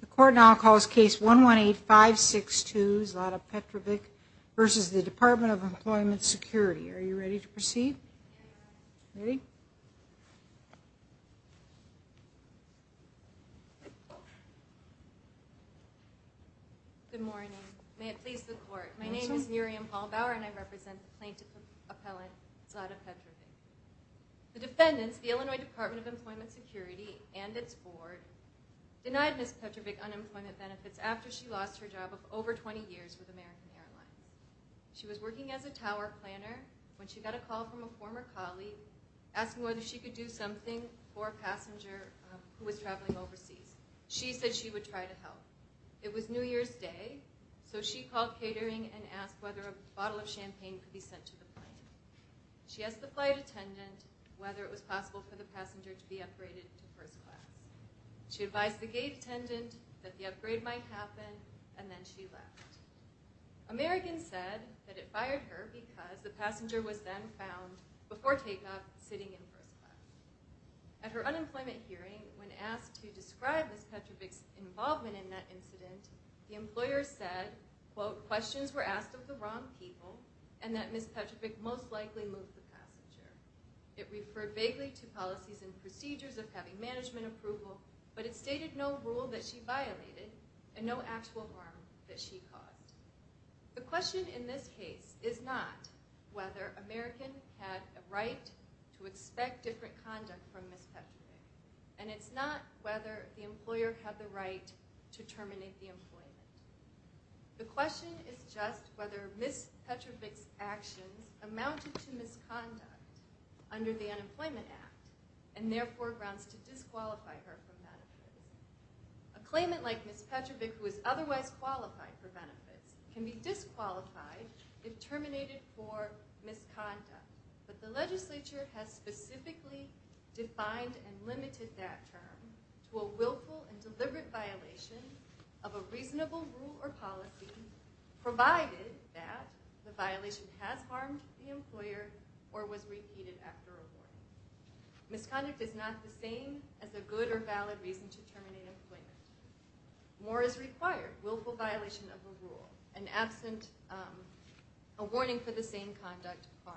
The court now calls case 118562 Zlata Petrovic v. Department of Employment Security. Are you ready to proceed? Ready? Good morning. May it please the court. My name is Miriam Hallbauer and I represent the plaintiff appellant Zlata Petrovic. The defendants, the Illinois Department of Employment Security and its board denied Ms. Petrovic unemployment benefits after she lost her job of over 20 years with American Airlines. She was working as a tower planner when she got a call from a former colleague asking whether she could do something for a passenger who was traveling overseas. She said she would try to help. It was New Year's Day, so she called catering and asked whether a bottle of champagne could be sent to the plane. She asked the flight attendant whether it was possible for the passenger to be upgraded to first class. She advised the gate attendant that the upgrade might happen, and then she left. American said that it fired her because the passenger was then found, before takeoff, sitting in first class. At her unemployment hearing, when asked to describe Ms. Petrovic's involvement in that incident, the employer said, quote, questions were asked of the wrong people and that Ms. Petrovic most likely moved the passenger. It referred vaguely to policies and procedures of having management approval, but it stated no rule that she violated and no actual harm that she caused. The question in this case is not whether American had a right to expect different conduct from Ms. Petrovic, and it's not whether the employer had the right to terminate the employment. The question is just whether Ms. Petrovic's actions amounted to misconduct under the Unemployment Act and therefore grounds to disqualify her from benefits. A claimant like Ms. Petrovic, who is otherwise qualified for benefits, can be disqualified if terminated for misconduct, but the legislature has specifically defined and limited that term to a willful and deliberate violation of a reasonable rule or policy, provided that the violation has harmed the employer or was repeated after a warning. Misconduct is not the same as a good or valid reason to terminate employment. More is required, willful violation of a rule and absent a warning for the same conduct harm.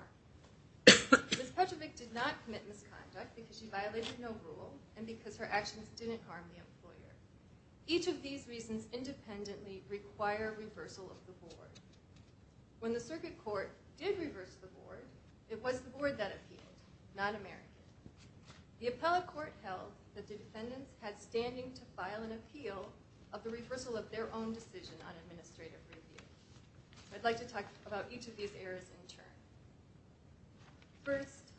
Ms. Petrovic did not commit misconduct because she violated no rule and because her actions didn't harm the employer. Each of these reasons independently require reversal of the board. When the circuit court did reverse the board, it was the board that appealed, not American. The appellate court held that the defendants had standing to file an appeal of the reversal of their own decision on administrative review. I'd like to talk about each of these errors in turn. First,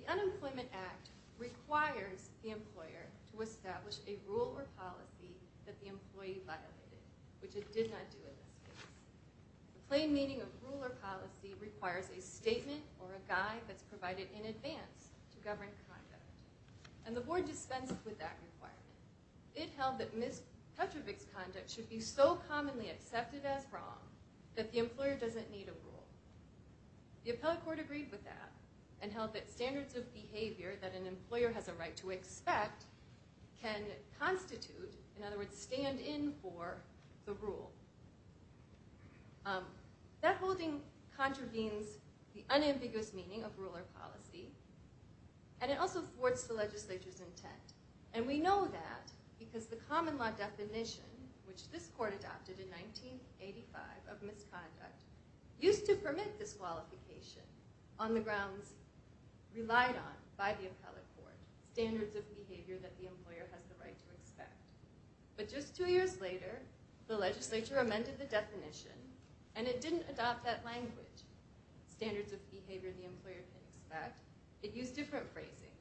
the Unemployment Act requires the employer to establish a rule or policy that the employee violated, which it did not do in this case. The plain meaning of rule or policy requires a statement or a guide that's provided in advance to govern conduct. And the board dispensed with that requirement. It held that Ms. Petrovic's conduct should be so commonly accepted as wrong that the employer doesn't need a rule. The appellate court agreed with that and held that standards of behavior that an employer has a right to expect can constitute, in other words, stand in for the rule. That holding contravenes the unambiguous meaning of rule or policy, and it also thwarts the legislature's intent. And we know that because the common law definition, which this court adopted in 1985 of misconduct, used to permit this qualification on the grounds relied on by the appellate court, standards of behavior that the employer has the right to expect. But just two years later, the legislature amended the definition, and it didn't adopt that language, standards of behavior the employer can expect. It used different phrasing,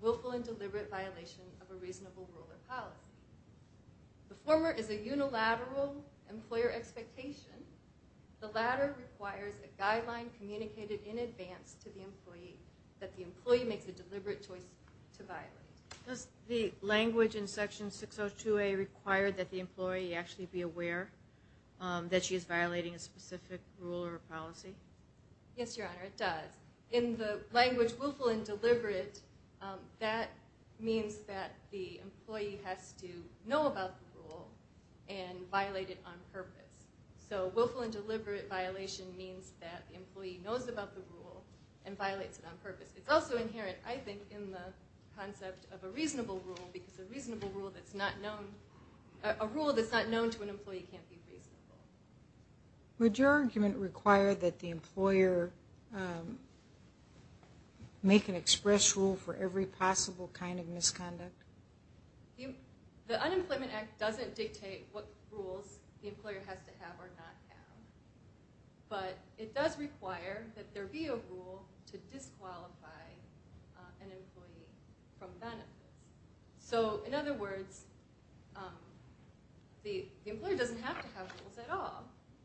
willful and deliberate violation of a reasonable rule or policy. The former is a unilateral employer expectation. The latter requires a guideline communicated in advance to the employee that the employee makes a deliberate choice to violate. Does the language in Section 602A require that the employee actually be aware that she is violating a specific rule or policy? Yes, Your Honor, it does. In the language willful and deliberate, that means that the employee has to know about the rule and violate it on purpose. So willful and deliberate violation means that the employee knows about the rule and violates it on purpose. It's also inherent, I think, in the concept of a reasonable rule, because a rule that's not known to an employee can't be reasonable. Would your argument require that the employer make an express rule for every possible kind of misconduct? The Unemployment Act doesn't dictate what rules the employer has to have or not have. But it does require that there be a rule to disqualify an employee from benefit. So in other words, the employer doesn't have to have rules at all.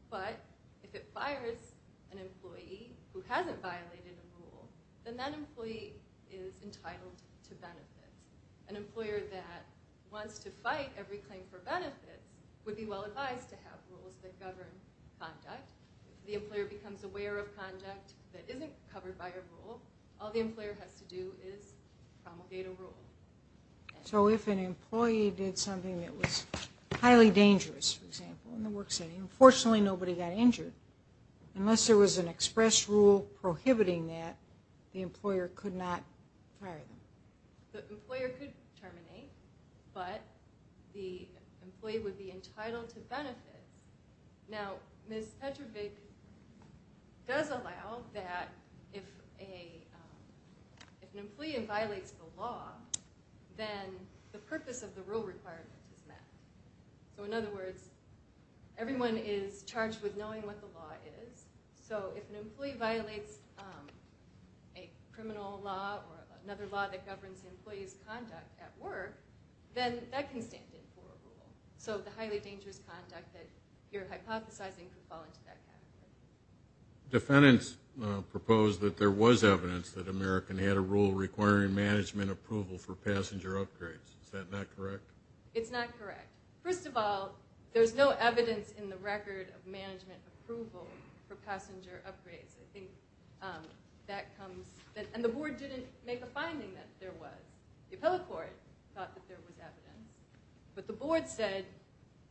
But if it fires an employee who hasn't violated a rule, then that employee is entitled to benefit. An employer that wants to fight every claim for benefit would be well advised to have rules that govern conduct. If the employer becomes aware of conduct that isn't covered by a rule, all the employer has to do is promulgate a rule. So if an employee did something that was highly dangerous, for example, in the work setting, unfortunately nobody got injured, unless there was an express rule prohibiting that, the employer could not fire them. The employer could terminate, but the employee would be entitled to benefit. Now, Ms. Petrovic does allow that if an employee violates the law, then the purpose of the rule requirement is met. So in other words, everyone is charged with knowing what the law is. So if an employee violates a criminal law or another law that governs the employee's conduct at work, then that can stand in for a rule. So the highly dangerous conduct that you're hypothesizing could fall into that category. Defendants proposed that there was evidence that American had a rule requiring management approval for passenger upgrades. Is that not correct? It's not correct. First of all, there's no evidence in the record of management approval for passenger upgrades. I think that comes, and the board didn't make a finding that there was. The appellate court thought that there was evidence. But the board said,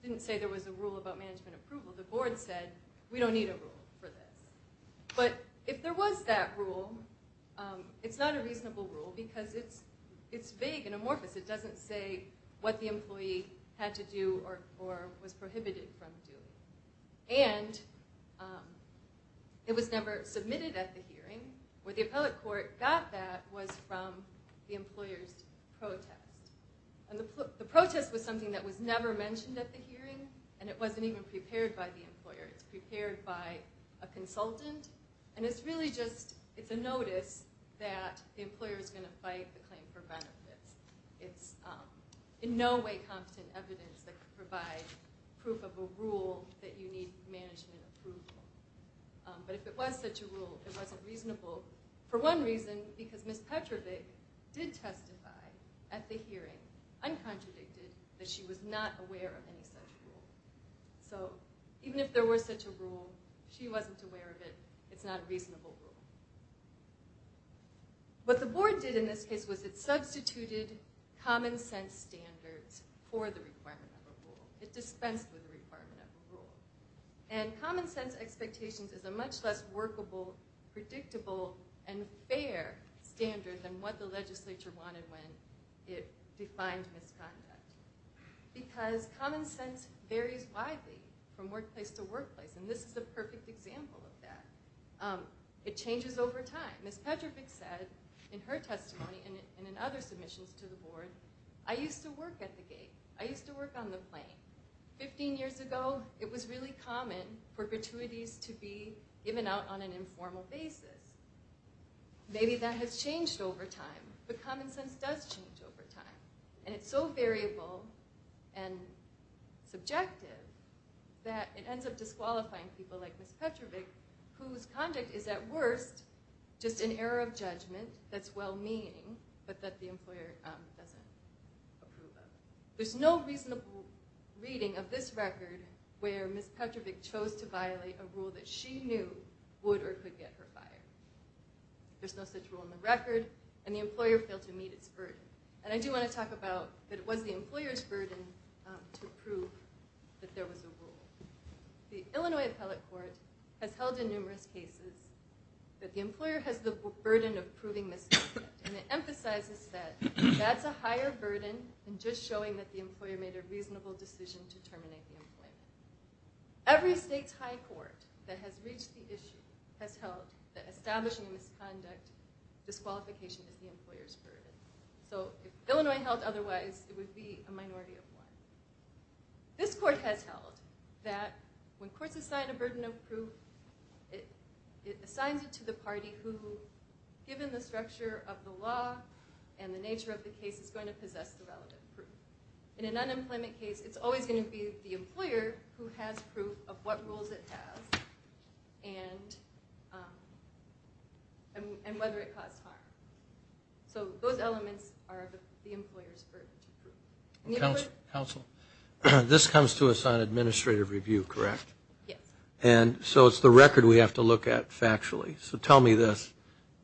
didn't say there was a rule about management approval. The board said, we don't need a rule for this. But if there was that rule, it's not a reasonable rule because it's vague and amorphous. It doesn't say what the employee had to do or was prohibited from doing. And it was never submitted at the hearing. Where the appellate court got that was from the employer's protest. And the protest was something that was never mentioned at the hearing, and it wasn't even prepared by the employer. It's prepared by a consultant. And it's really just a notice that the employer is going to fight the claim for benefits. It's in no way competent evidence that could provide proof of a rule that you need management approval. But if it was such a rule, it wasn't reasonable for one reason, because Ms. Petrovic did testify at the hearing, uncontradicted, that she was not aware of any such rule. So even if there were such a rule, she wasn't aware of it. It's not a reasonable rule. What the board did in this case was it substituted common sense standards for the requirement of a rule. It dispensed with the requirement of a rule. And common sense expectations is a much less workable, predictable, and fair standard than what the legislature wanted when it defined misconduct. Because common sense varies widely from workplace to workplace, and this is a perfect example of that. It changes over time. Ms. Petrovic said in her testimony and in other submissions to the board, I used to work at the gate. I used to work on the plane. Fifteen years ago, it was really common for gratuities to be given out on an informal basis. Maybe that has changed over time. But common sense does change over time. And it's so variable and subjective that it ends up disqualifying people like Ms. Petrovic whose conduct is at worst just an error of judgment that's well-meaning, but that the employer doesn't approve of. There's no reasonable reading of this record where Ms. Petrovic chose to violate a rule that she knew would or could get her fired. There's no such rule in the record, and the employer failed to meet its burden. And I do want to talk about that it was the employer's burden to prove that there was a rule. The Illinois Appellate Court has held in numerous cases that the employer has the burden of proving misconduct, and it emphasizes that that's a higher burden than just showing that the employer made a reasonable decision to terminate the employment. Every state's high court that has reached the issue has held that establishing a misconduct disqualification is the employer's burden. So if Illinois held otherwise, it would be a minority of one. This court has held that when courts assign a burden of proof, it assigns it to the party who, given the structure of the law and the nature of the case, is going to possess the relevant proof. In an unemployment case, it's always going to be the employer who has proof of what rules it has and whether it caused harm. So those elements are the employer's burden to prove. Counsel, this comes to us on administrative review, correct? Yes. And so it's the record we have to look at factually. So tell me this.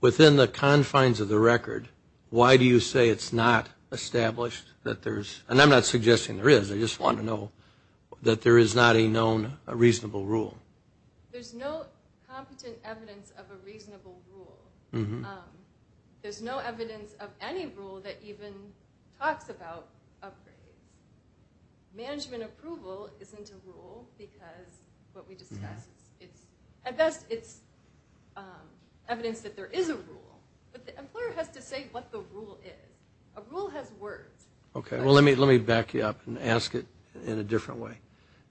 Within the confines of the record, why do you say it's not established that there's, and I'm not suggesting there is, I just want to know, that there is not a known reasonable rule? There's no competent evidence of a reasonable rule. There's no evidence of any rule that even talks about upgrades. Management approval isn't a rule because what we discussed. At best, it's evidence that there is a rule, but the employer has to say what the rule is. A rule has words. Okay. Well, let me back you up and ask it in a different way.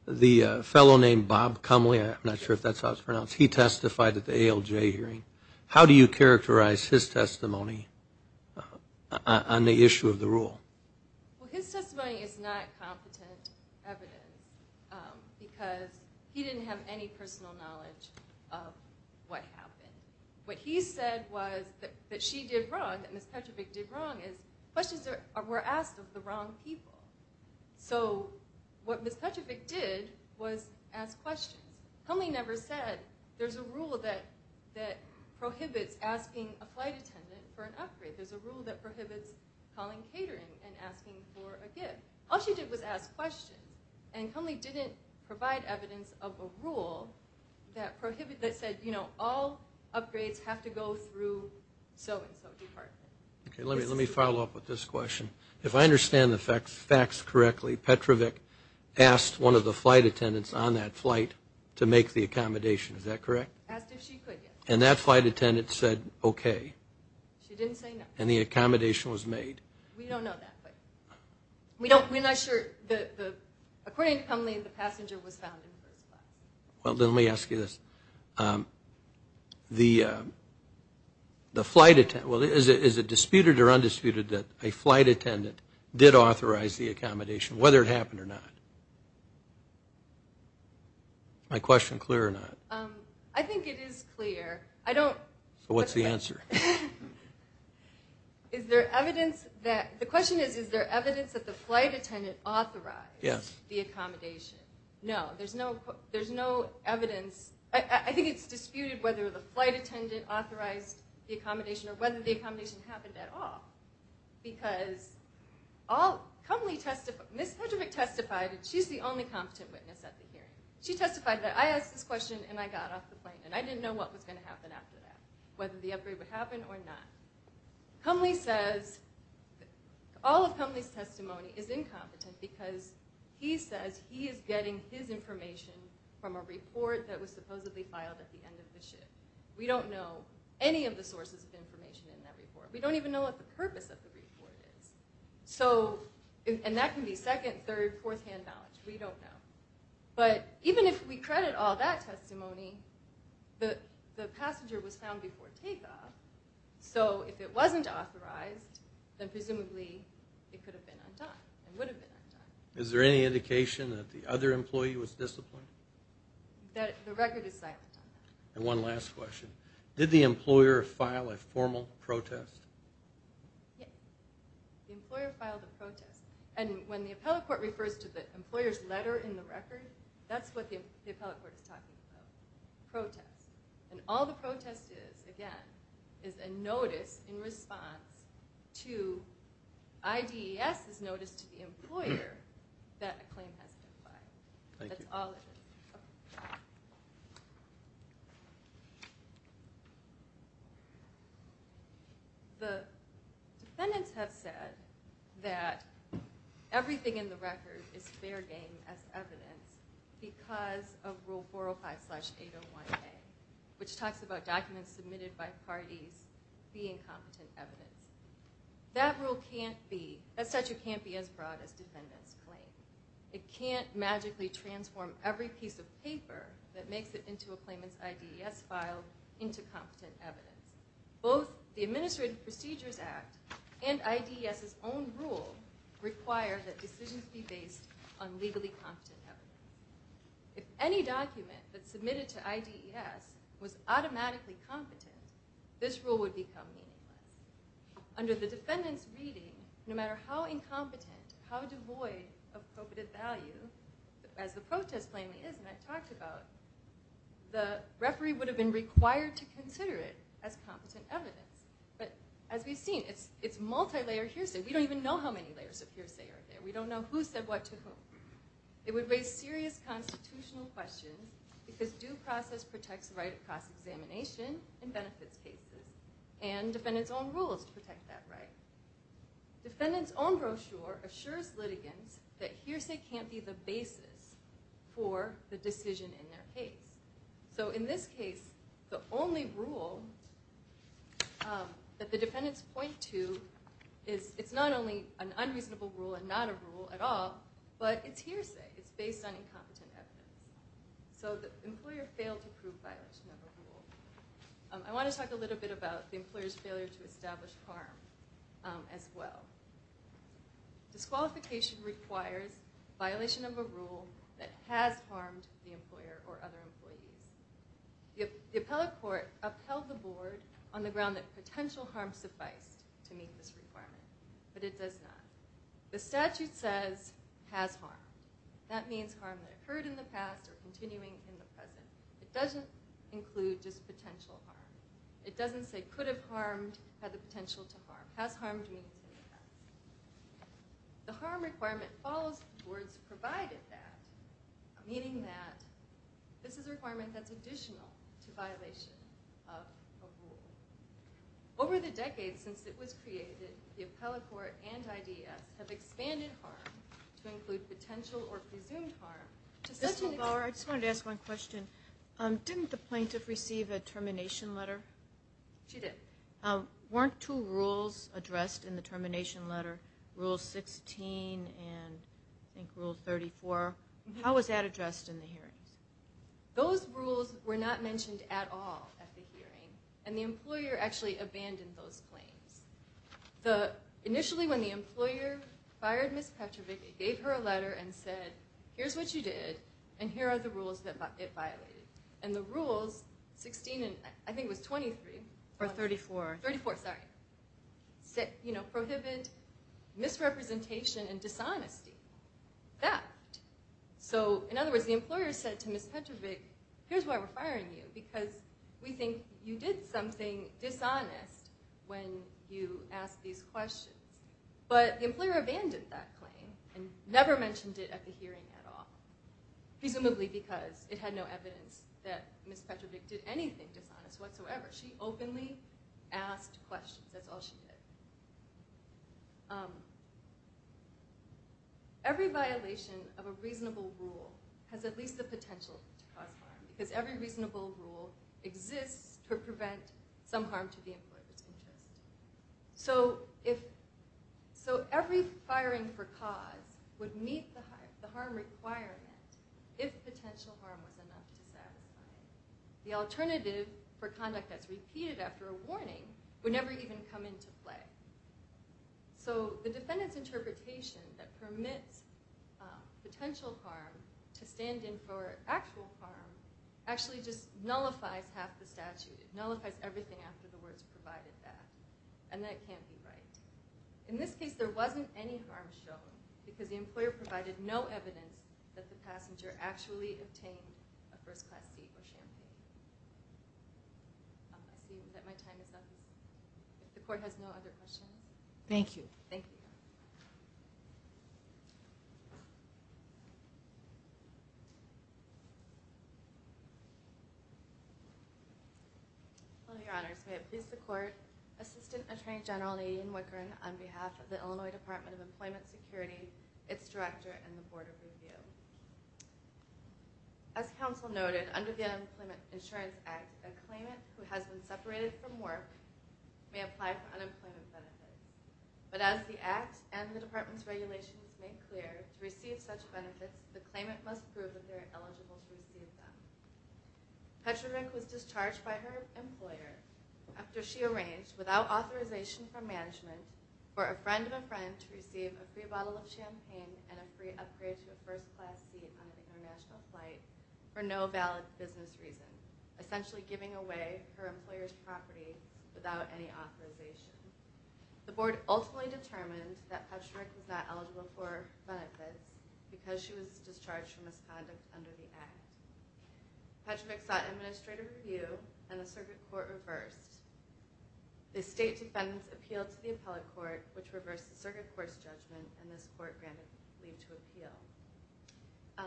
The fellow named Bob Comley, I'm not sure if that's how it's pronounced, he testified at the ALJ hearing. How do you characterize his testimony on the issue of the rule? Well, his testimony is not competent evidence because he didn't have any personal knowledge of what happened. What he said was that she did wrong, that Ms. Petrovic did wrong, is questions were asked of the wrong people. So what Ms. Petrovic did was ask questions. Comley never said there's a rule that prohibits asking a flight attendant for an upgrade. There's a rule that prohibits calling catering and asking for a gift. All she did was ask questions, and Comley didn't provide evidence of a rule that said, you know, all upgrades have to go through so-and-so department. Okay. Let me follow up with this question. If I understand the facts correctly, Ms. Petrovic asked one of the flight attendants on that flight to make the accommodation. Is that correct? Asked if she could, yes. And that flight attendant said okay. She didn't say no. And the accommodation was made. We don't know that. We're not sure. According to Comley, the passenger was found in the first flight. Well, let me ask you this. Is it disputed or undisputed that a flight attendant did authorize the accommodation, whether it happened or not? Is my question clear or not? I think it is clear. I don't. So what's the answer? Is there evidence that the question is, is there evidence that the flight attendant authorized the accommodation? No. There's no evidence. I think it's disputed whether the flight attendant authorized the accommodation or whether the accommodation happened at all. Because Comley testified, Ms. Petrovic testified, and she's the only competent witness at the hearing. She testified that I asked this question and I got off the plane and I didn't know what was going to happen after that, whether the upgrade would happen or not. Comley says all of Comley's testimony is incompetent because he says he is getting his information from a report that was supposedly filed at the end of the shift. We don't know any of the sources of information in that report. We don't even know what the purpose of the report is. And that can be second, third, fourth-hand knowledge. We don't know. But even if we credit all that testimony, the passenger was found before takeoff, so if it wasn't authorized, then presumably it could have been undone and would have been undone. Is there any indication that the other employee was disciplined? The record is silent on that. And one last question. Did the employer file a formal protest? The employer filed a protest. And when the appellate court refers to the employer's letter in the record, that's what the appellate court is talking about, protest. And all the protest is, again, is a notice in response to IDES's notice to the employer that a claim has been filed. Thank you. That's all of it. The defendants have said that everything in the record is fair game as evidence because of Rule 405-801A, which talks about documents submitted by parties being competent evidence. That rule can't be as broad as defendants claim. It can't magically transform every piece of paper that makes it into a claimant's IDES file into competent evidence. Both the Administrative Procedures Act and IDES's own rule require that decisions be based on legally competent evidence. If any document that's submitted to IDES was automatically competent, this rule would become meaningless. Under the defendant's reading, no matter how incompetent, how devoid of co-operative value, as the protest plainly is, and I've talked about, the referee would have been required to consider it as competent evidence. But as we've seen, it's multi-layered hearsay. We don't even know how many layers of hearsay are there. We don't know who said what to whom. It would raise serious constitutional questions because due process protects the right of cross-examination and benefits cases. And defendants' own rule is to protect that right. Defendants' own brochure assures litigants that hearsay can't be the basis for the decision in their case. So in this case, the only rule that the defendants point to is it's not only an unreasonable rule and not a rule at all, but it's hearsay. It's based on incompetent evidence. So the employer failed to prove violation of a rule. I want to talk a little bit about the employer's failure to establish harm as well. Disqualification requires violation of a rule that has harmed the employer or other employees. The appellate court upheld the board on the ground that potential harm sufficed to meet this requirement, but it does not. The statute says, has harmed. That means harm that occurred in the past or continuing in the present. It doesn't include just potential harm. It doesn't say could have harmed, had the potential to harm. Has harmed means it has. The harm requirement follows the words provided that, meaning that this is a requirement that's additional to violation of a rule. Over the decades since it was created, the appellate court and IDF have expanded harm to include potential or presumed harm to such an extent. I just wanted to ask one question. Didn't the plaintiff receive a termination letter? She did. Weren't two rules addressed in the termination letter, Rule 16 and, I think, Rule 34? How was that addressed in the hearings? Those rules were not mentioned at all at the hearing, and the employer actually abandoned those claims. Initially, when the employer fired Ms. Petrovic, it gave her a letter and said, Here's what you did, and here are the rules that it violated. And the rules, 16 and, I think it was 23. Or 34. 34, sorry. Prohibit misrepresentation and dishonesty, theft. So, in other words, the employer said to Ms. Petrovic, Here's why we're firing you, because we think you did something dishonest when you asked these questions. But the employer abandoned that claim and never mentioned it at the hearing at all, presumably because it had no evidence that Ms. Petrovic did anything dishonest whatsoever. She openly asked questions. That's all she did. Every violation of a reasonable rule has at least the potential to cause harm, because every reasonable rule exists to prevent some harm to the employer's interest. So every firing for cause would meet the harm requirement if potential harm was enough to satisfy it. The alternative for conduct that's repeated after a warning would never even come into play. So the defendant's interpretation that permits potential harm to stand in for actual harm actually just nullifies half the statute. It nullifies everything after the words provided that. And that can't be right. In this case, there wasn't any harm shown, because the employer provided no evidence that the passenger actually obtained a first-class seat or champion. I see that my time is up. If the court has no other questions. Thank you. Thank you. Your Honor, may it please the Court, Assistant Attorney General Nadine Wickren, on behalf of the Illinois Department of Employment Security, its Director, and the Board of Review. As counsel noted, under the Unemployment Insurance Act, a claimant who has been separated from work may apply for unemployment benefits. But as the Act and the Department's regulations make clear, to receive such benefits, the claimant must prove that they are eligible to receive them. Petrovic was discharged by her employer after she arranged, without authorization from management, for a friend of a friend to receive a free bottle of champagne and a free upgrade to a first-class seat on an international flight for no valid business reason, essentially giving away her employer's property without any authorization. The Board ultimately determined that Petrovic was not eligible for benefits because she was discharged from misconduct under the Act. Petrovic sought administrative review, and the Circuit Court reversed. The State Defendants appealed to the Appellate Court, which reversed the Circuit Court's judgment, and this Court granted leave to appeal.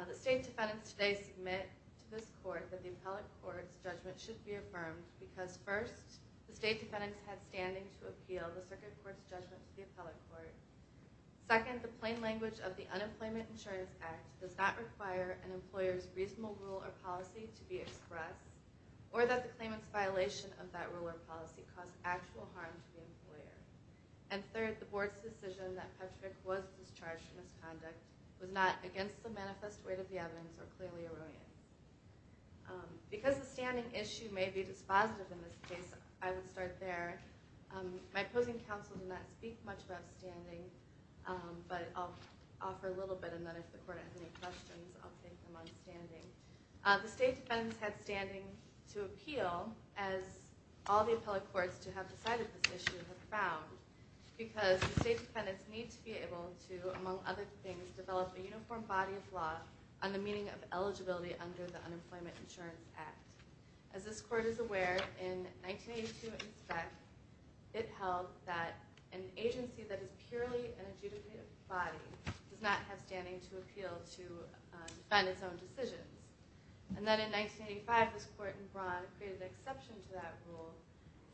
The State Defendants today submit to this Court that the Appellate Court's judgment should be affirmed because first, the State Defendants had standing to appeal the Circuit Court's judgment to the Appellate Court. Second, the plain language of the Unemployment Insurance Act does not require an employer's reasonable rule or policy to be expressed, or that the claimant's violation of that rule or policy caused actual harm to the employer. And third, the Board's decision that Petrovic was discharged from misconduct was not against the manifest weight of the evidence or clearly erroneous. Because the standing issue may be dispositive in this case, I will start there. My opposing counsel did not speak much about standing, but I'll offer a little bit, and then if the Court has any questions, I'll take them on standing. The State Defendants had standing to appeal, as all the Appellate Courts to have decided this issue have found, because the State Defendants need to be able to, among other things, develop a uniform body of law on the meaning of eligibility under the Unemployment Insurance Act. As this Court is aware, in 1982, it held that an agency that is purely an adjudicative body does not have standing to appeal to defend its own decisions. And then in 1985, this Court in Braun created an exception to that rule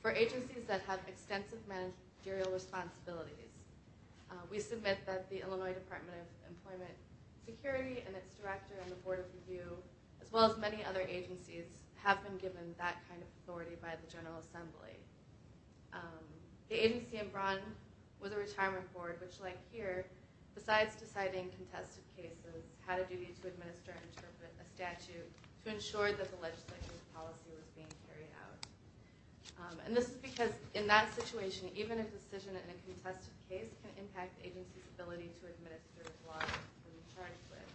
for agencies that have extensive managerial responsibilities. We submit that the Illinois Department of Employment Security and its director and the Board of Review, as well as many other agencies, have been given that kind of authority by the General Assembly. The agency in Braun was a retirement board, which like here, besides deciding contested cases, had a duty to administer and interpret a statute to ensure that the legislative policy was being carried out. And this is because in that situation, even a decision in a contested case can impact the agency's ability to administer the law that it's charged with.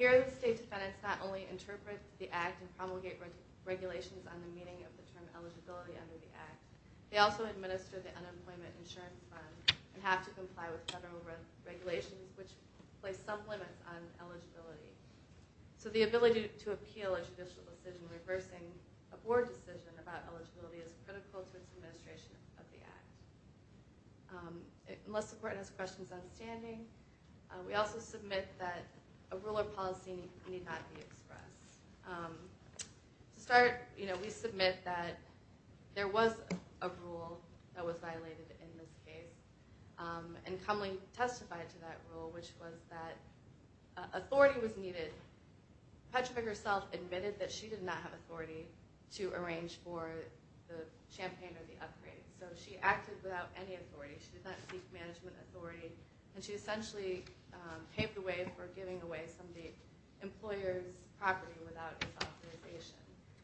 Here, the State Defendants not only interpret the Act and promulgate regulations on the meaning of the term eligibility under the Act, they also administer the Unemployment Insurance Fund and have to comply with federal regulations, which place some limits on eligibility. So the ability to appeal a judicial decision reversing a board decision about eligibility is critical to its administration of the Act. Unless the Court has questions on standing, we also submit that a rule or policy need not be expressed. To start, we submit that there was a rule that was violated in this case and Cumley testified to that rule, which was that authority was needed. Petrovic herself admitted that she did not have authority to arrange for the champagne or the upgrade. So she acted without any authority. She did not seek management authority. And she essentially paved the way for giving away some of the employer's property without his authorization.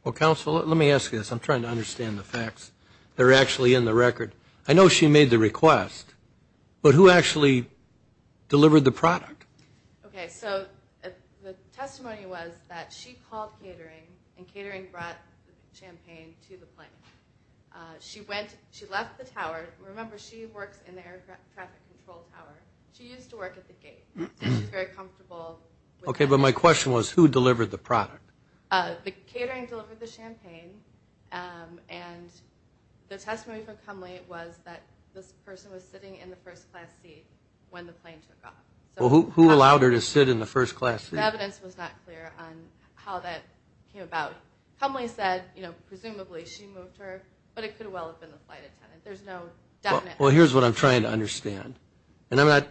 Well, counsel, let me ask you this. I'm trying to understand the facts. They're actually in the record. I know she made the request, but who actually delivered the product? Okay. So the testimony was that she called catering, and catering brought champagne to the plane. She went, she left the tower. Remember, she works in the air traffic control tower. She used to work at the gate. So she's very comfortable with that. Okay, but my question was who delivered the product? The catering delivered the champagne. And the testimony for Cumley was that this person was sitting in the first-class seat when the plane took off. Well, who allowed her to sit in the first-class seat? The evidence was not clear on how that came about. Cumley said, you know, presumably she moved her, but it could well have been the flight attendant. There's no definite answer. Well, here's what I'm trying to understand. And I'm not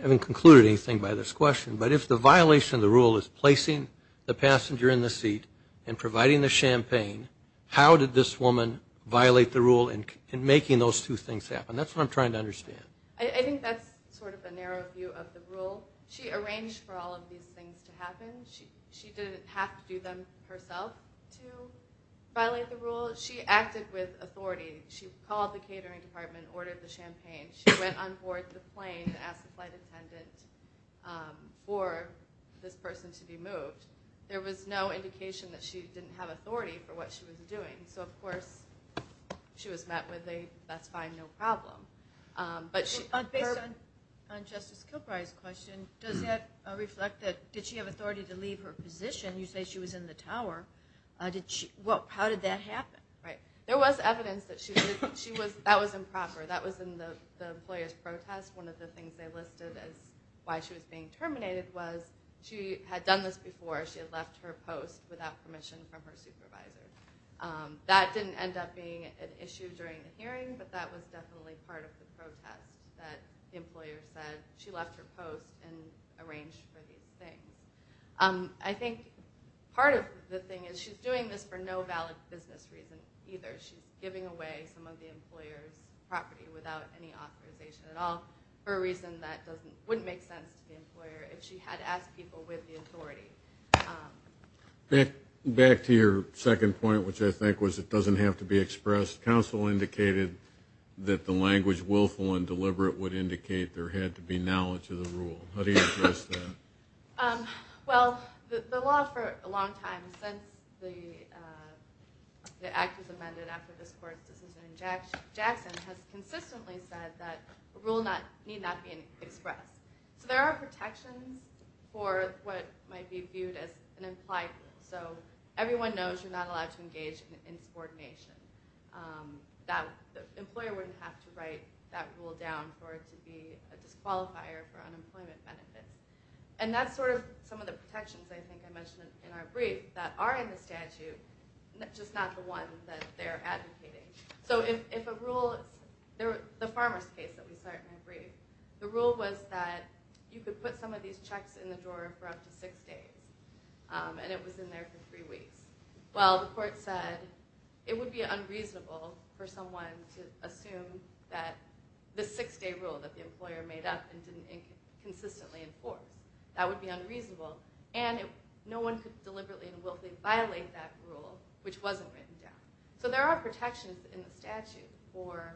having concluded anything by this question, but if the violation of the rule is placing the passenger in the seat and providing the champagne, how did this woman violate the rule in making those two things happen? That's what I'm trying to understand. I think that's sort of a narrow view of the rule. She arranged for all of these things to happen. She didn't have to do them herself to violate the rule. She acted with authority. She called the catering department, ordered the champagne. She went on board the plane and asked the flight attendant for this person to be moved. There was no indication that she didn't have authority for what she was doing. So, of course, she was met with a, that's fine, no problem. Based on Justice Kilbride's question, does that reflect that did she have authority to leave her position? You say she was in the tower. How did that happen? Right. There was evidence that that was improper. That was in the employer's protest. One of the things they listed as why she was being terminated was she had done this before. She had left her post without permission from her supervisor. That didn't end up being an issue during the hearing, but that was definitely part of the protest that the employer said she left her post and arranged for these things. I think part of the thing is she's doing this for no valid business reason either. She's giving away some of the employer's property without any authorization at all for a reason that wouldn't make sense to the employer if she had asked people with the authority. Back to your second point, which I think was it doesn't have to be expressed, counsel indicated that the language willful and deliberate would indicate there had to be knowledge of the rule. How do you address that? Well, the law for a long time since the act was amended after this court's decision in Jackson has consistently said that a rule need not be expressed. So there are protections for what might be viewed as an implied rule. So everyone knows you're not allowed to engage in subordination. The employer wouldn't have to write that rule down for it to be a disqualifier for unemployment benefit. And that's sort of some of the protections I think I mentioned in our brief that are in the statute, just not the ones that they're advocating. So if a rule, the farmers case that we saw in our brief, the rule was that you could put some of these checks in the drawer for up to six days, and it was in there for three weeks. Well, the court said it would be unreasonable for someone to assume that the six-day rule that the employer made up and didn't consistently enforce, that would be unreasonable. And no one could deliberately and willfully violate that rule, which wasn't written down. So there are protections in the statute for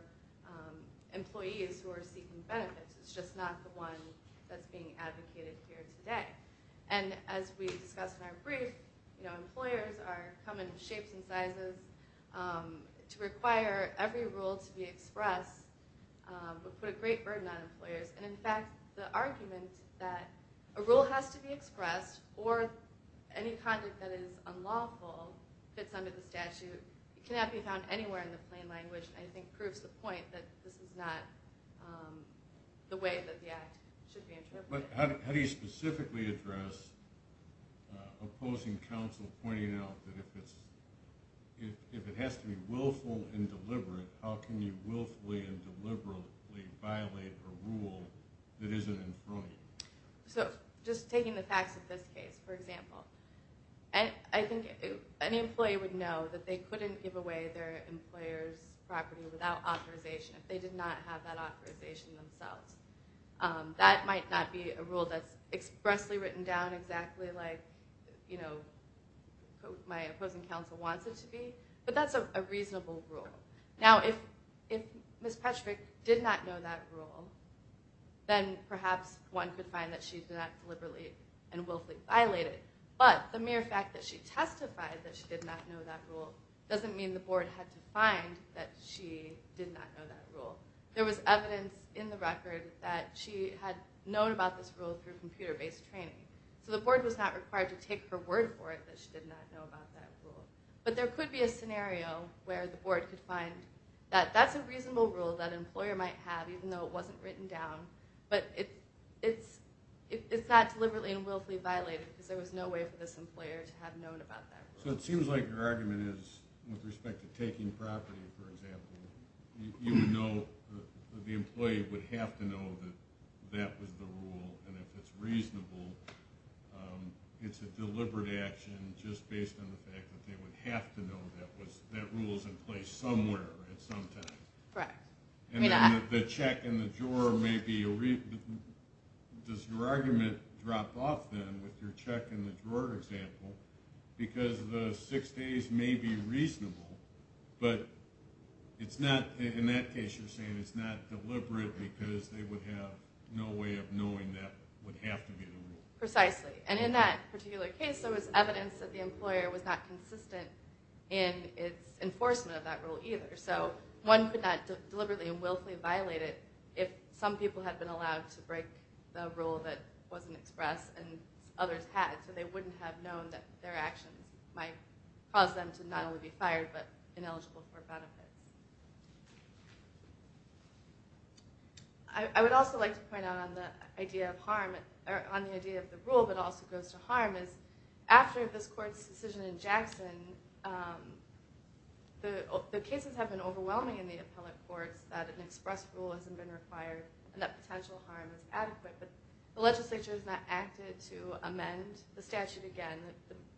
employees who are seeking benefits. It's just not the one that's being advocated here today. And as we discussed in our brief, employers come in shapes and sizes. To require every rule to be expressed would put a great burden on employers. And in fact, the argument that a rule has to be expressed, or any conduct that is unlawful fits under the statute, cannot be found anywhere in the plain language, I think proves the point that this is not the way that the Act should be interpreted. But how do you specifically address opposing counsel pointing out that if it has to be willful and deliberate, how can you willfully and deliberately violate a rule that isn't in front of you? So just taking the facts of this case, for example, I think any employee would know that they couldn't give away their employer's property without authorization if they did not have that authorization themselves. That might not be a rule that's expressly written down exactly like my opposing counsel wants it to be, but that's a reasonable rule. Now, if Ms. Petrovic did not know that rule, then perhaps one could find that she did not deliberately and willfully violate it. But the mere fact that she testified that she did not know that rule doesn't mean the board had to find that she did not know that rule. There was evidence in the record that she had known about this rule through computer-based training. So the board was not required to take her word for it that she did not know about that rule. But there could be a scenario where the board could find that that's a reasonable rule that an employer might have, even though it wasn't written down, but it's not deliberately and willfully violated because there was no way for this employer to have known about that rule. So it seems like your argument is with respect to taking property, for example, you would know that the employee would have to know that that was the rule, and if it's reasonable, it's a deliberate action just based on the fact that they would have to know that that rule is in place somewhere at some time. Correct. And then the check in the drawer may be a reason. Does your argument drop off, then, with your check in the drawer example because the six days may be reasonable, but in that case you're saying it's not deliberate because they would have no way of knowing that would have to be the rule? Precisely. And in that particular case, there was evidence that the employer was not consistent in its enforcement of that rule either. So one could not deliberately and willfully violate it if some people had been allowed to break the rule that wasn't expressed and others had, so they wouldn't have known that their actions might cause them to not only be fired but ineligible for benefit. I would also like to point out on the idea of the rule but also goes to harm is after this court's decision in Jackson, the cases have been overwhelming in the appellate courts that an expressed rule hasn't been required and that potential harm is adequate, but the legislature has not acted to amend the statute again.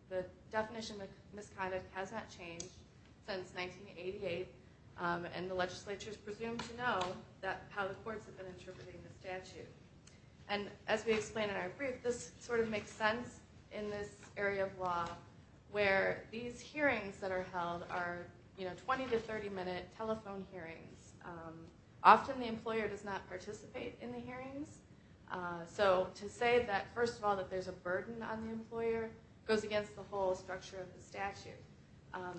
The definition of misconduct has not changed since 1988, and the legislature is presumed to know how the courts have been interpreting the statute. And as we explained in our brief, this sort of makes sense in this area of law where these hearings that are held are 20- to 30-minute telephone hearings. Often the employer does not participate in the hearings. So to say that first of all that there's a burden on the employer goes against the whole structure of the statute.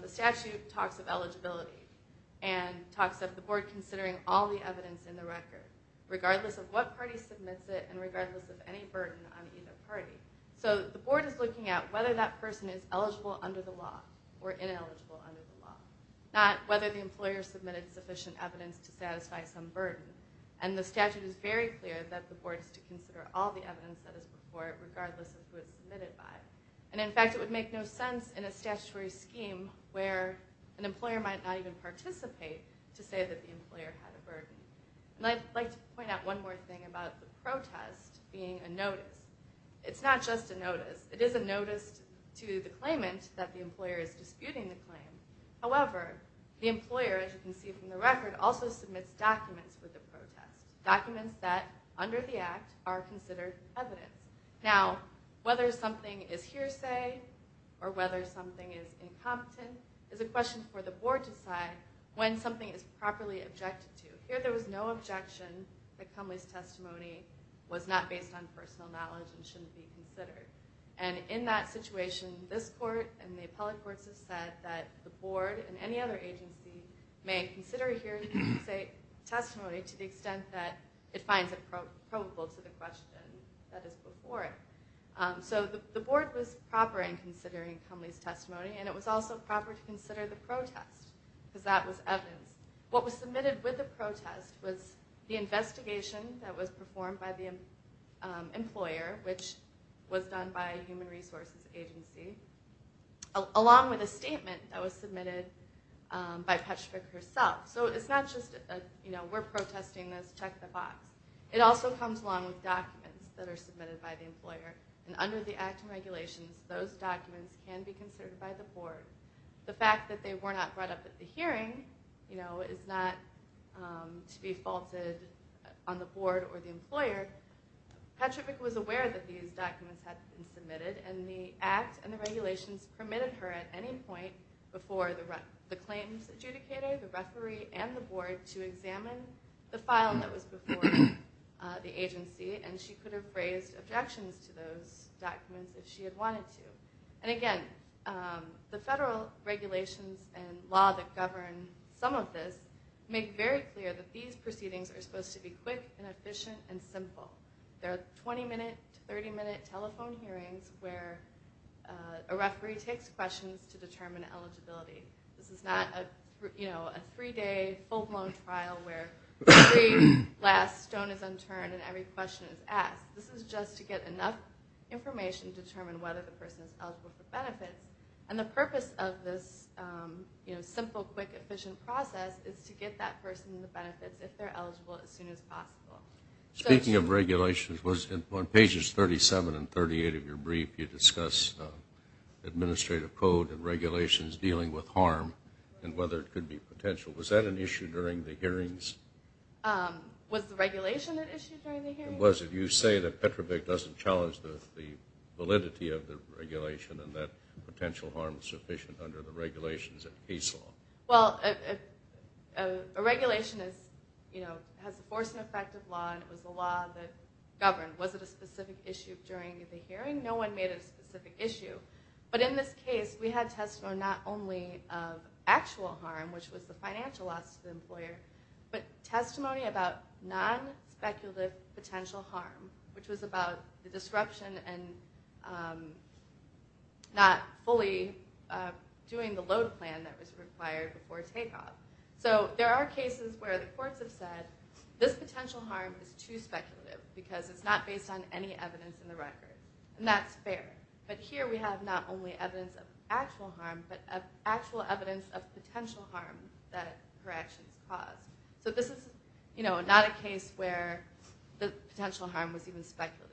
The statute talks of eligibility and talks of the board considering all the evidence in the record, regardless of what party submits it and regardless of any burden on either party. So the board is looking at whether that person is eligible under the law or ineligible under the law, not whether the employer submitted sufficient evidence to satisfy some burden. And the statute is very clear that the board is to consider all the evidence that is before it, regardless of who it's submitted by. And in fact, it would make no sense in a statutory scheme where an employer might not even participate to say that the employer had a burden. And I'd like to point out one more thing about the protest being a notice. It's not just a notice. It is a notice to the claimant that the employer is disputing the claim. However, the employer, as you can see from the record, also submits documents for the protest, documents that under the Act are considered evidence. Now, whether something is hearsay or whether something is incompetent is a question for the board to decide when something is properly objected to. Here there was no objection that Conway's testimony was not based on personal knowledge and shouldn't be considered. And in that situation, this court and the appellate courts have said that the board and any other agency may consider a hearsay testimony to the extent that it finds it probable to the question that is before it. So the board was proper in considering Conway's testimony, and it was also proper to consider the protest because that was evidence. What was submitted with the protest was the investigation that was performed by the employer, which was done by a human resources agency, along with a statement that was submitted by Petrovic herself. So it's not just a, you know, we're protesting this, check the box. It also comes along with documents that are submitted by the employer, and under the Act and regulations, those documents can be considered by the board. The fact that they were not brought up at the hearing, you know, is not to be faulted on the board or the employer. Petrovic was aware that these documents had been submitted, and the Act and the regulations permitted her at any point before the claims adjudicator, the referee, and the board to examine the file that was before the agency, and she could have raised objections to those documents if she had wanted to. And again, the federal regulations and law that govern some of this make very clear that these proceedings are supposed to be quick and efficient and simple. There are 20-minute to 30-minute telephone hearings where a referee takes questions to determine eligibility. This is not, you know, a three-day full-blown trial where every last stone is unturned and every question is asked. This is just to get enough information to determine whether the person is eligible for benefits. And the purpose of this, you know, simple, quick, efficient process is to get that person the benefits if they're eligible as soon as possible. Speaking of regulations, on pages 37 and 38 of your brief, you discuss administrative code and regulations dealing with harm and whether it could be potential. Was that an issue during the hearings? Was the regulation an issue during the hearings? It was. If you say that Petrovic doesn't challenge the validity of the regulation and that potential harm is sufficient under the regulations of case law. Well, a regulation is, you know, has the force and effect of law, and it was the law that governed. Was it a specific issue during the hearing? No one made it a specific issue. But in this case, we had testimony not only of actual harm, which was the financial loss to the employer, but testimony about non-speculative potential harm, which was about the disruption and not fully doing the load plan that was required before takeoff. So there are cases where the courts have said, this potential harm is too speculative because it's not based on any evidence in the record. And that's fair. But here we have not only evidence of actual harm, but actual evidence of potential harm that her actions caused. So this is, you know, not a case where the potential harm was even speculative.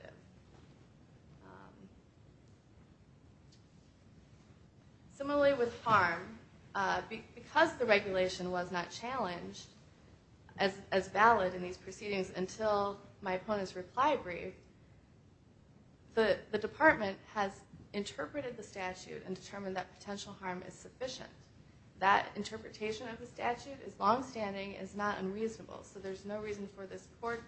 Similarly with harm, because the regulation was not challenged as valid in these proceedings until my opponent's reply brief, the department has interpreted the statute and determined that potential harm is sufficient. That interpretation of the statute is longstanding, is not unreasonable. So there's no reason for this court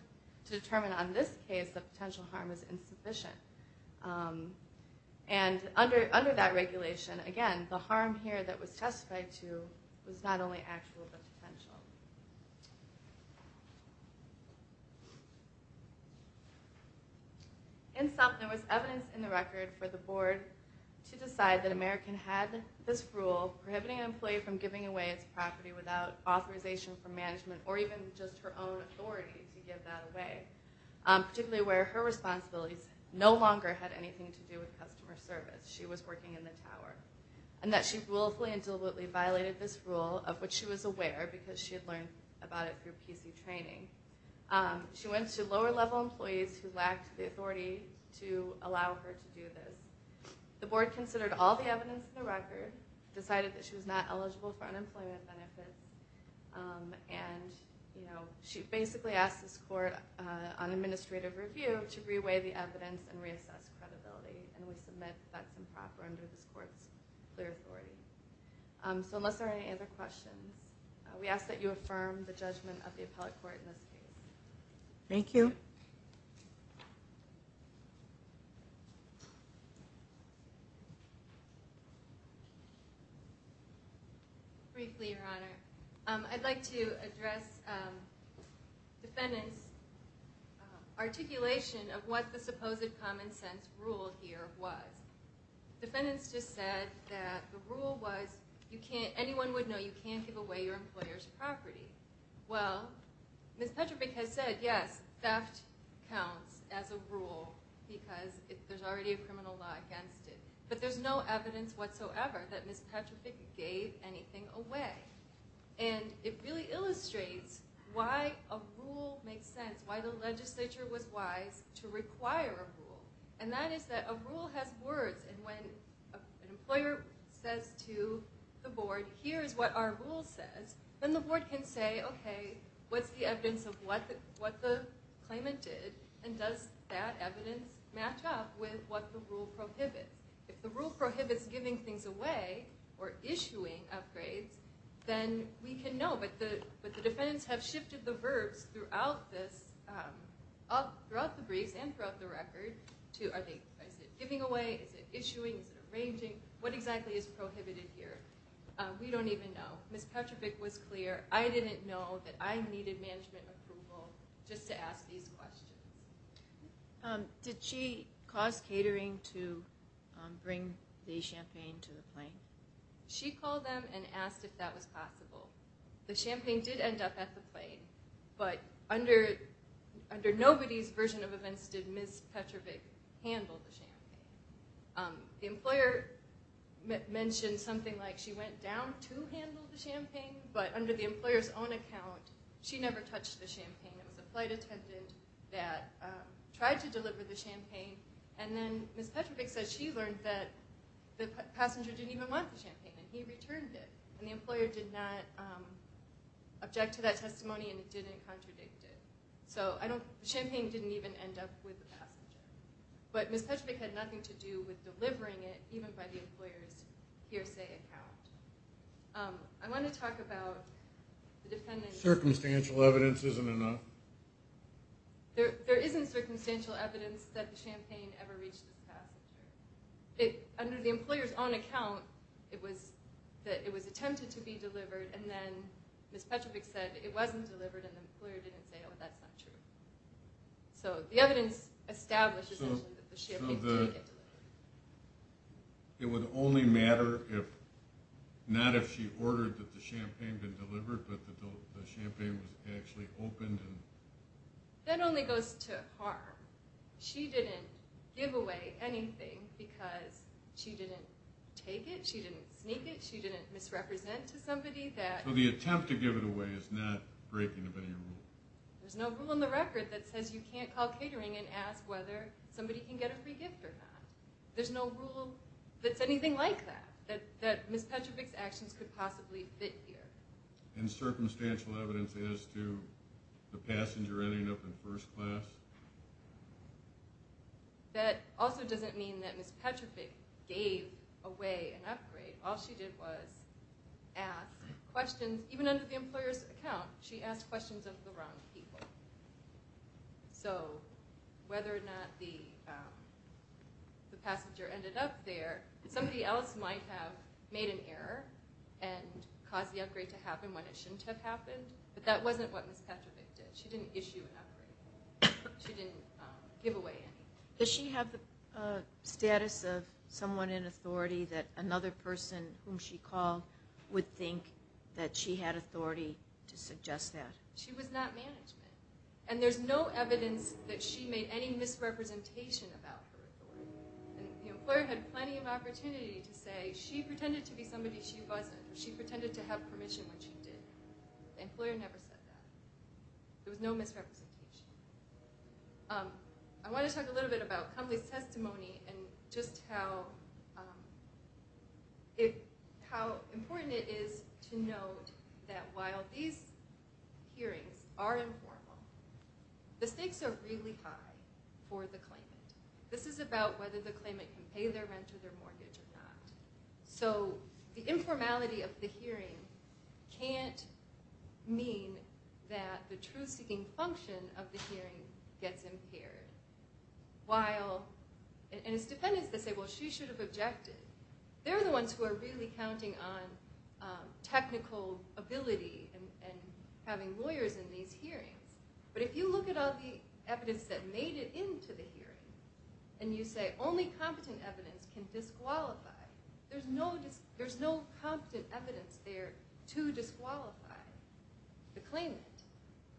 to determine on this case that potential harm is insufficient. And under that regulation, again, the harm here that was testified to was not only actual, but potential. In sum, there was evidence in the record for the board to decide that American had this rule prohibiting an employee from giving away its property without authorization from management or even just her own authority to give that away. Particularly where her responsibilities no longer had anything to do with customer service. She was working in the tower. And that she willfully and deliberately violated this rule, of which she was aware because she had learned about it through PC training. She went to lower level employees who lacked the authority to allow her to do this. The board considered all the evidence in the record, decided that she was not eligible for unemployment benefits, and she basically asked this court on administrative review to re-weigh the evidence and reassess credibility. And we submit that's improper under this court's clear authority. So unless there are any other questions, we ask that you affirm the judgment of the appellate court in this case. Thank you. Briefly, Your Honor. I'd like to address defendants' articulation of what the supposed common sense rule here was. Defendants just said that the rule was anyone would know you can't give away your employer's property. Well, Ms. Petrovic has said, yes, theft counts as a rule because there's already a criminal law here. But there's no evidence whatsoever that Ms. Petrovic gave anything away. And it really illustrates why a rule makes sense, why the legislature was wise to require a rule. And that is that a rule has words, and when an employer says to the board, here is what our rule says, then the board can say, okay, what's the evidence of what the claimant did, and does that evidence match up with what the rule prohibits? If the rule prohibits giving things away or issuing upgrades, then we can know. But the defendants have shifted the verbs throughout the briefs and throughout the record. Is it giving away? Is it issuing? Is it arranging? What exactly is prohibited here? We don't even know. Ms. Petrovic was clear. I didn't know that I needed management approval just to ask these questions. Did she cause catering to bring the champagne to the plane? She called them and asked if that was possible. The champagne did end up at the plane, but under nobody's version of events did Ms. Petrovic handle the champagne. The employer mentioned something like she went down to handle the champagne, but under the employer's own account, she never touched the champagne. It was a flight attendant that tried to deliver the champagne, and then Ms. Petrovic says she learned that the passenger didn't even want the champagne, and he returned it, and the employer did not object to that testimony and didn't contradict it. So the champagne didn't even end up with the passenger. But Ms. Petrovic had nothing to do with delivering it, even by the employer's hearsay account. I want to talk about the defendant's... Circumstantial evidence isn't enough. There isn't circumstantial evidence that the champagne ever reached the passenger. Under the employer's own account, it was attempted to be delivered, and then Ms. Petrovic said it wasn't delivered, and the employer didn't say, oh, that's not true. So the evidence establishes that the champagne did get delivered. It would only matter if, not if she ordered that the champagne be delivered, but that the champagne was actually opened. That only goes to harm. She didn't give away anything because she didn't take it, she didn't sneak it, she didn't misrepresent to somebody that... So the attempt to give it away is not breaking the value rule. There's no rule in the record that says you can't call catering and ask whether somebody can get a free gift or not. There's no rule that's anything like that, that Ms. Petrovic's actions could possibly fit here. And circumstantial evidence as to the passenger ending up in first class? That also doesn't mean that Ms. Petrovic gave away an upgrade. All she did was ask questions. Even under the employer's account, she asked questions of the wrong people. So whether or not the passenger ended up there, somebody else might have made an error and caused the upgrade to happen when it shouldn't have happened. But that wasn't what Ms. Petrovic did. She didn't issue an upgrade. She didn't give away anything. Does she have the status of someone in authority that another person whom she called would think that she had authority to suggest that? She was not management. And there's no evidence that she made any misrepresentation about her authority. The employer had plenty of opportunity to say she pretended to be somebody she wasn't, or she pretended to have permission when she did. The employer never said that. There was no misrepresentation. I want to talk a little bit about Kumley's testimony and just how important it is to note that while these hearings are informal, the stakes are really high for the claimant. This is about whether the claimant can pay their rent or their mortgage or not. So the informality of the hearing can't mean that the truth-seeking function of the hearing gets impaired. And it's defendants that say, well, she should have objected. They're the ones who are really counting on technical ability and having lawyers in these hearings. But if you look at all the evidence that made it into the hearing and you say only competent evidence can disqualify, there's no competent evidence there to disqualify the claimant,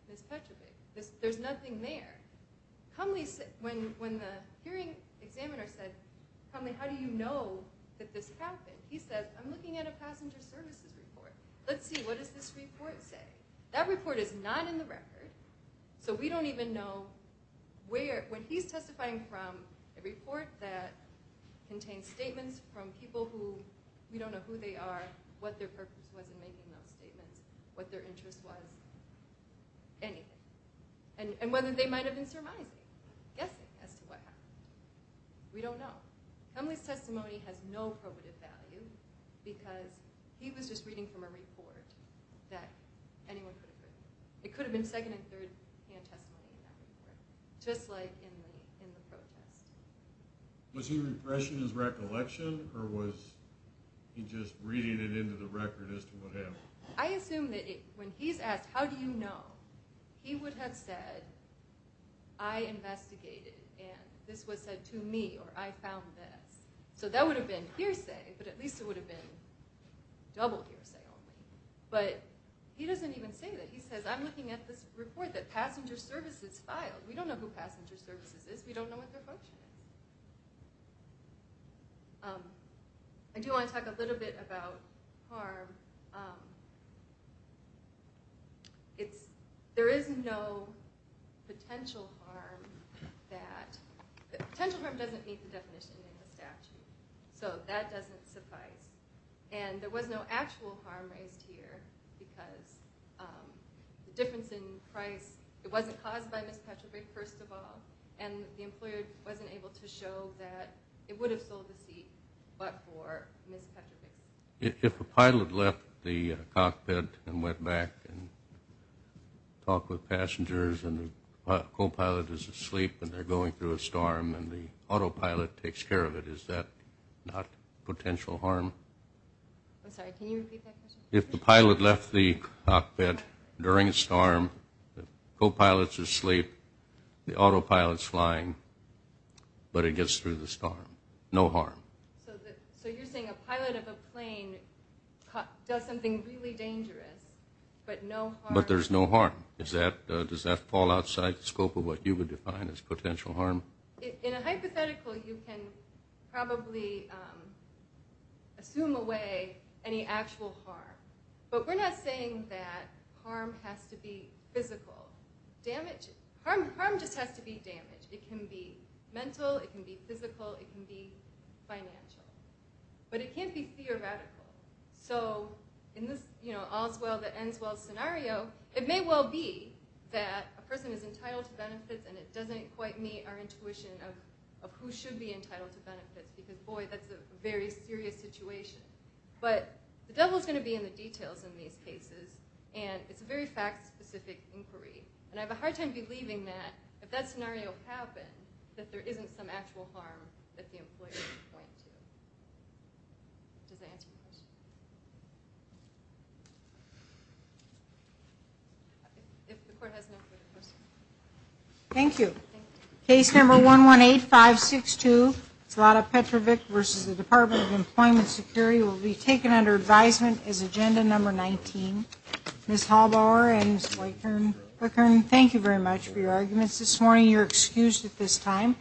Ms. Petrovic. There's nothing there. When the hearing examiner said, Kumley, how do you know that this happened? He said, I'm looking at a passenger services report. Let's see, what does this report say? That report is not in the record, so we don't even know where. When he's testifying from a report that contains statements from people who we don't know who they are, what their purpose was in making those statements, what their interest was, anything. And whether they might have been surmising, guessing as to what happened. We don't know. Kumley's testimony has no probative value because he was just reading from a report that anyone could have written. It could have been second- and third-hand testimony in that report, just like in the protest. Was he repressing his recollection, or was he just reading it into the record as to what happened? I assume that when he's asked, how do you know, he would have said, I investigated, and this was said to me, or I found this. So that would have been hearsay, but at least it would have been double hearsay only. But he doesn't even say that. He says, I'm looking at this report that passenger services filed. We don't know who passenger services is. We don't know what their function is. I do want to talk a little bit about harm. There is no potential harm. Potential harm doesn't meet the definition in the statute, so that doesn't suffice. And there was no actual harm raised here because the difference in price, it wasn't caused by Ms. Petrovic, first of all, and the employer wasn't able to show that it would have sold the seat but for Ms. Petrovic. If a pilot left the cockpit and went back and talked with passengers and the copilot is asleep and they're going through a storm and the autopilot takes care of it, is that not potential harm? I'm sorry, can you repeat that question? If the pilot left the cockpit during a storm, the copilot's asleep, the autopilot's flying, but it gets through the storm. No harm. So you're saying a pilot of a plane does something really dangerous, but no harm. But there's no harm. Does that fall outside the scope of what you would define as potential harm? In a hypothetical, you can probably assume away any actual harm. But we're not saying that harm has to be physical. Harm just has to be damage. It can be mental, it can be physical, it can be financial. But it can't be theoretical. So in this all's well that ends well scenario, it may well be that a person is entitled to benefits and it doesn't quite meet our intuition of who should be entitled to benefits because, boy, that's a very serious situation. But the devil's going to be in the details in these cases, and it's a very fact-specific inquiry. And I have a hard time believing that if that scenario happened, that there isn't some actual harm that the employer would point to. Does that answer your question? If the court has no further questions. Thank you. Case number 118562, Zlata Petrovic v. Department of Employment Security, will be taken under advisement as agenda number 19. Ms. Haubauer and Ms. Weichern, thank you very much for your arguments this morning. You're excused at this time.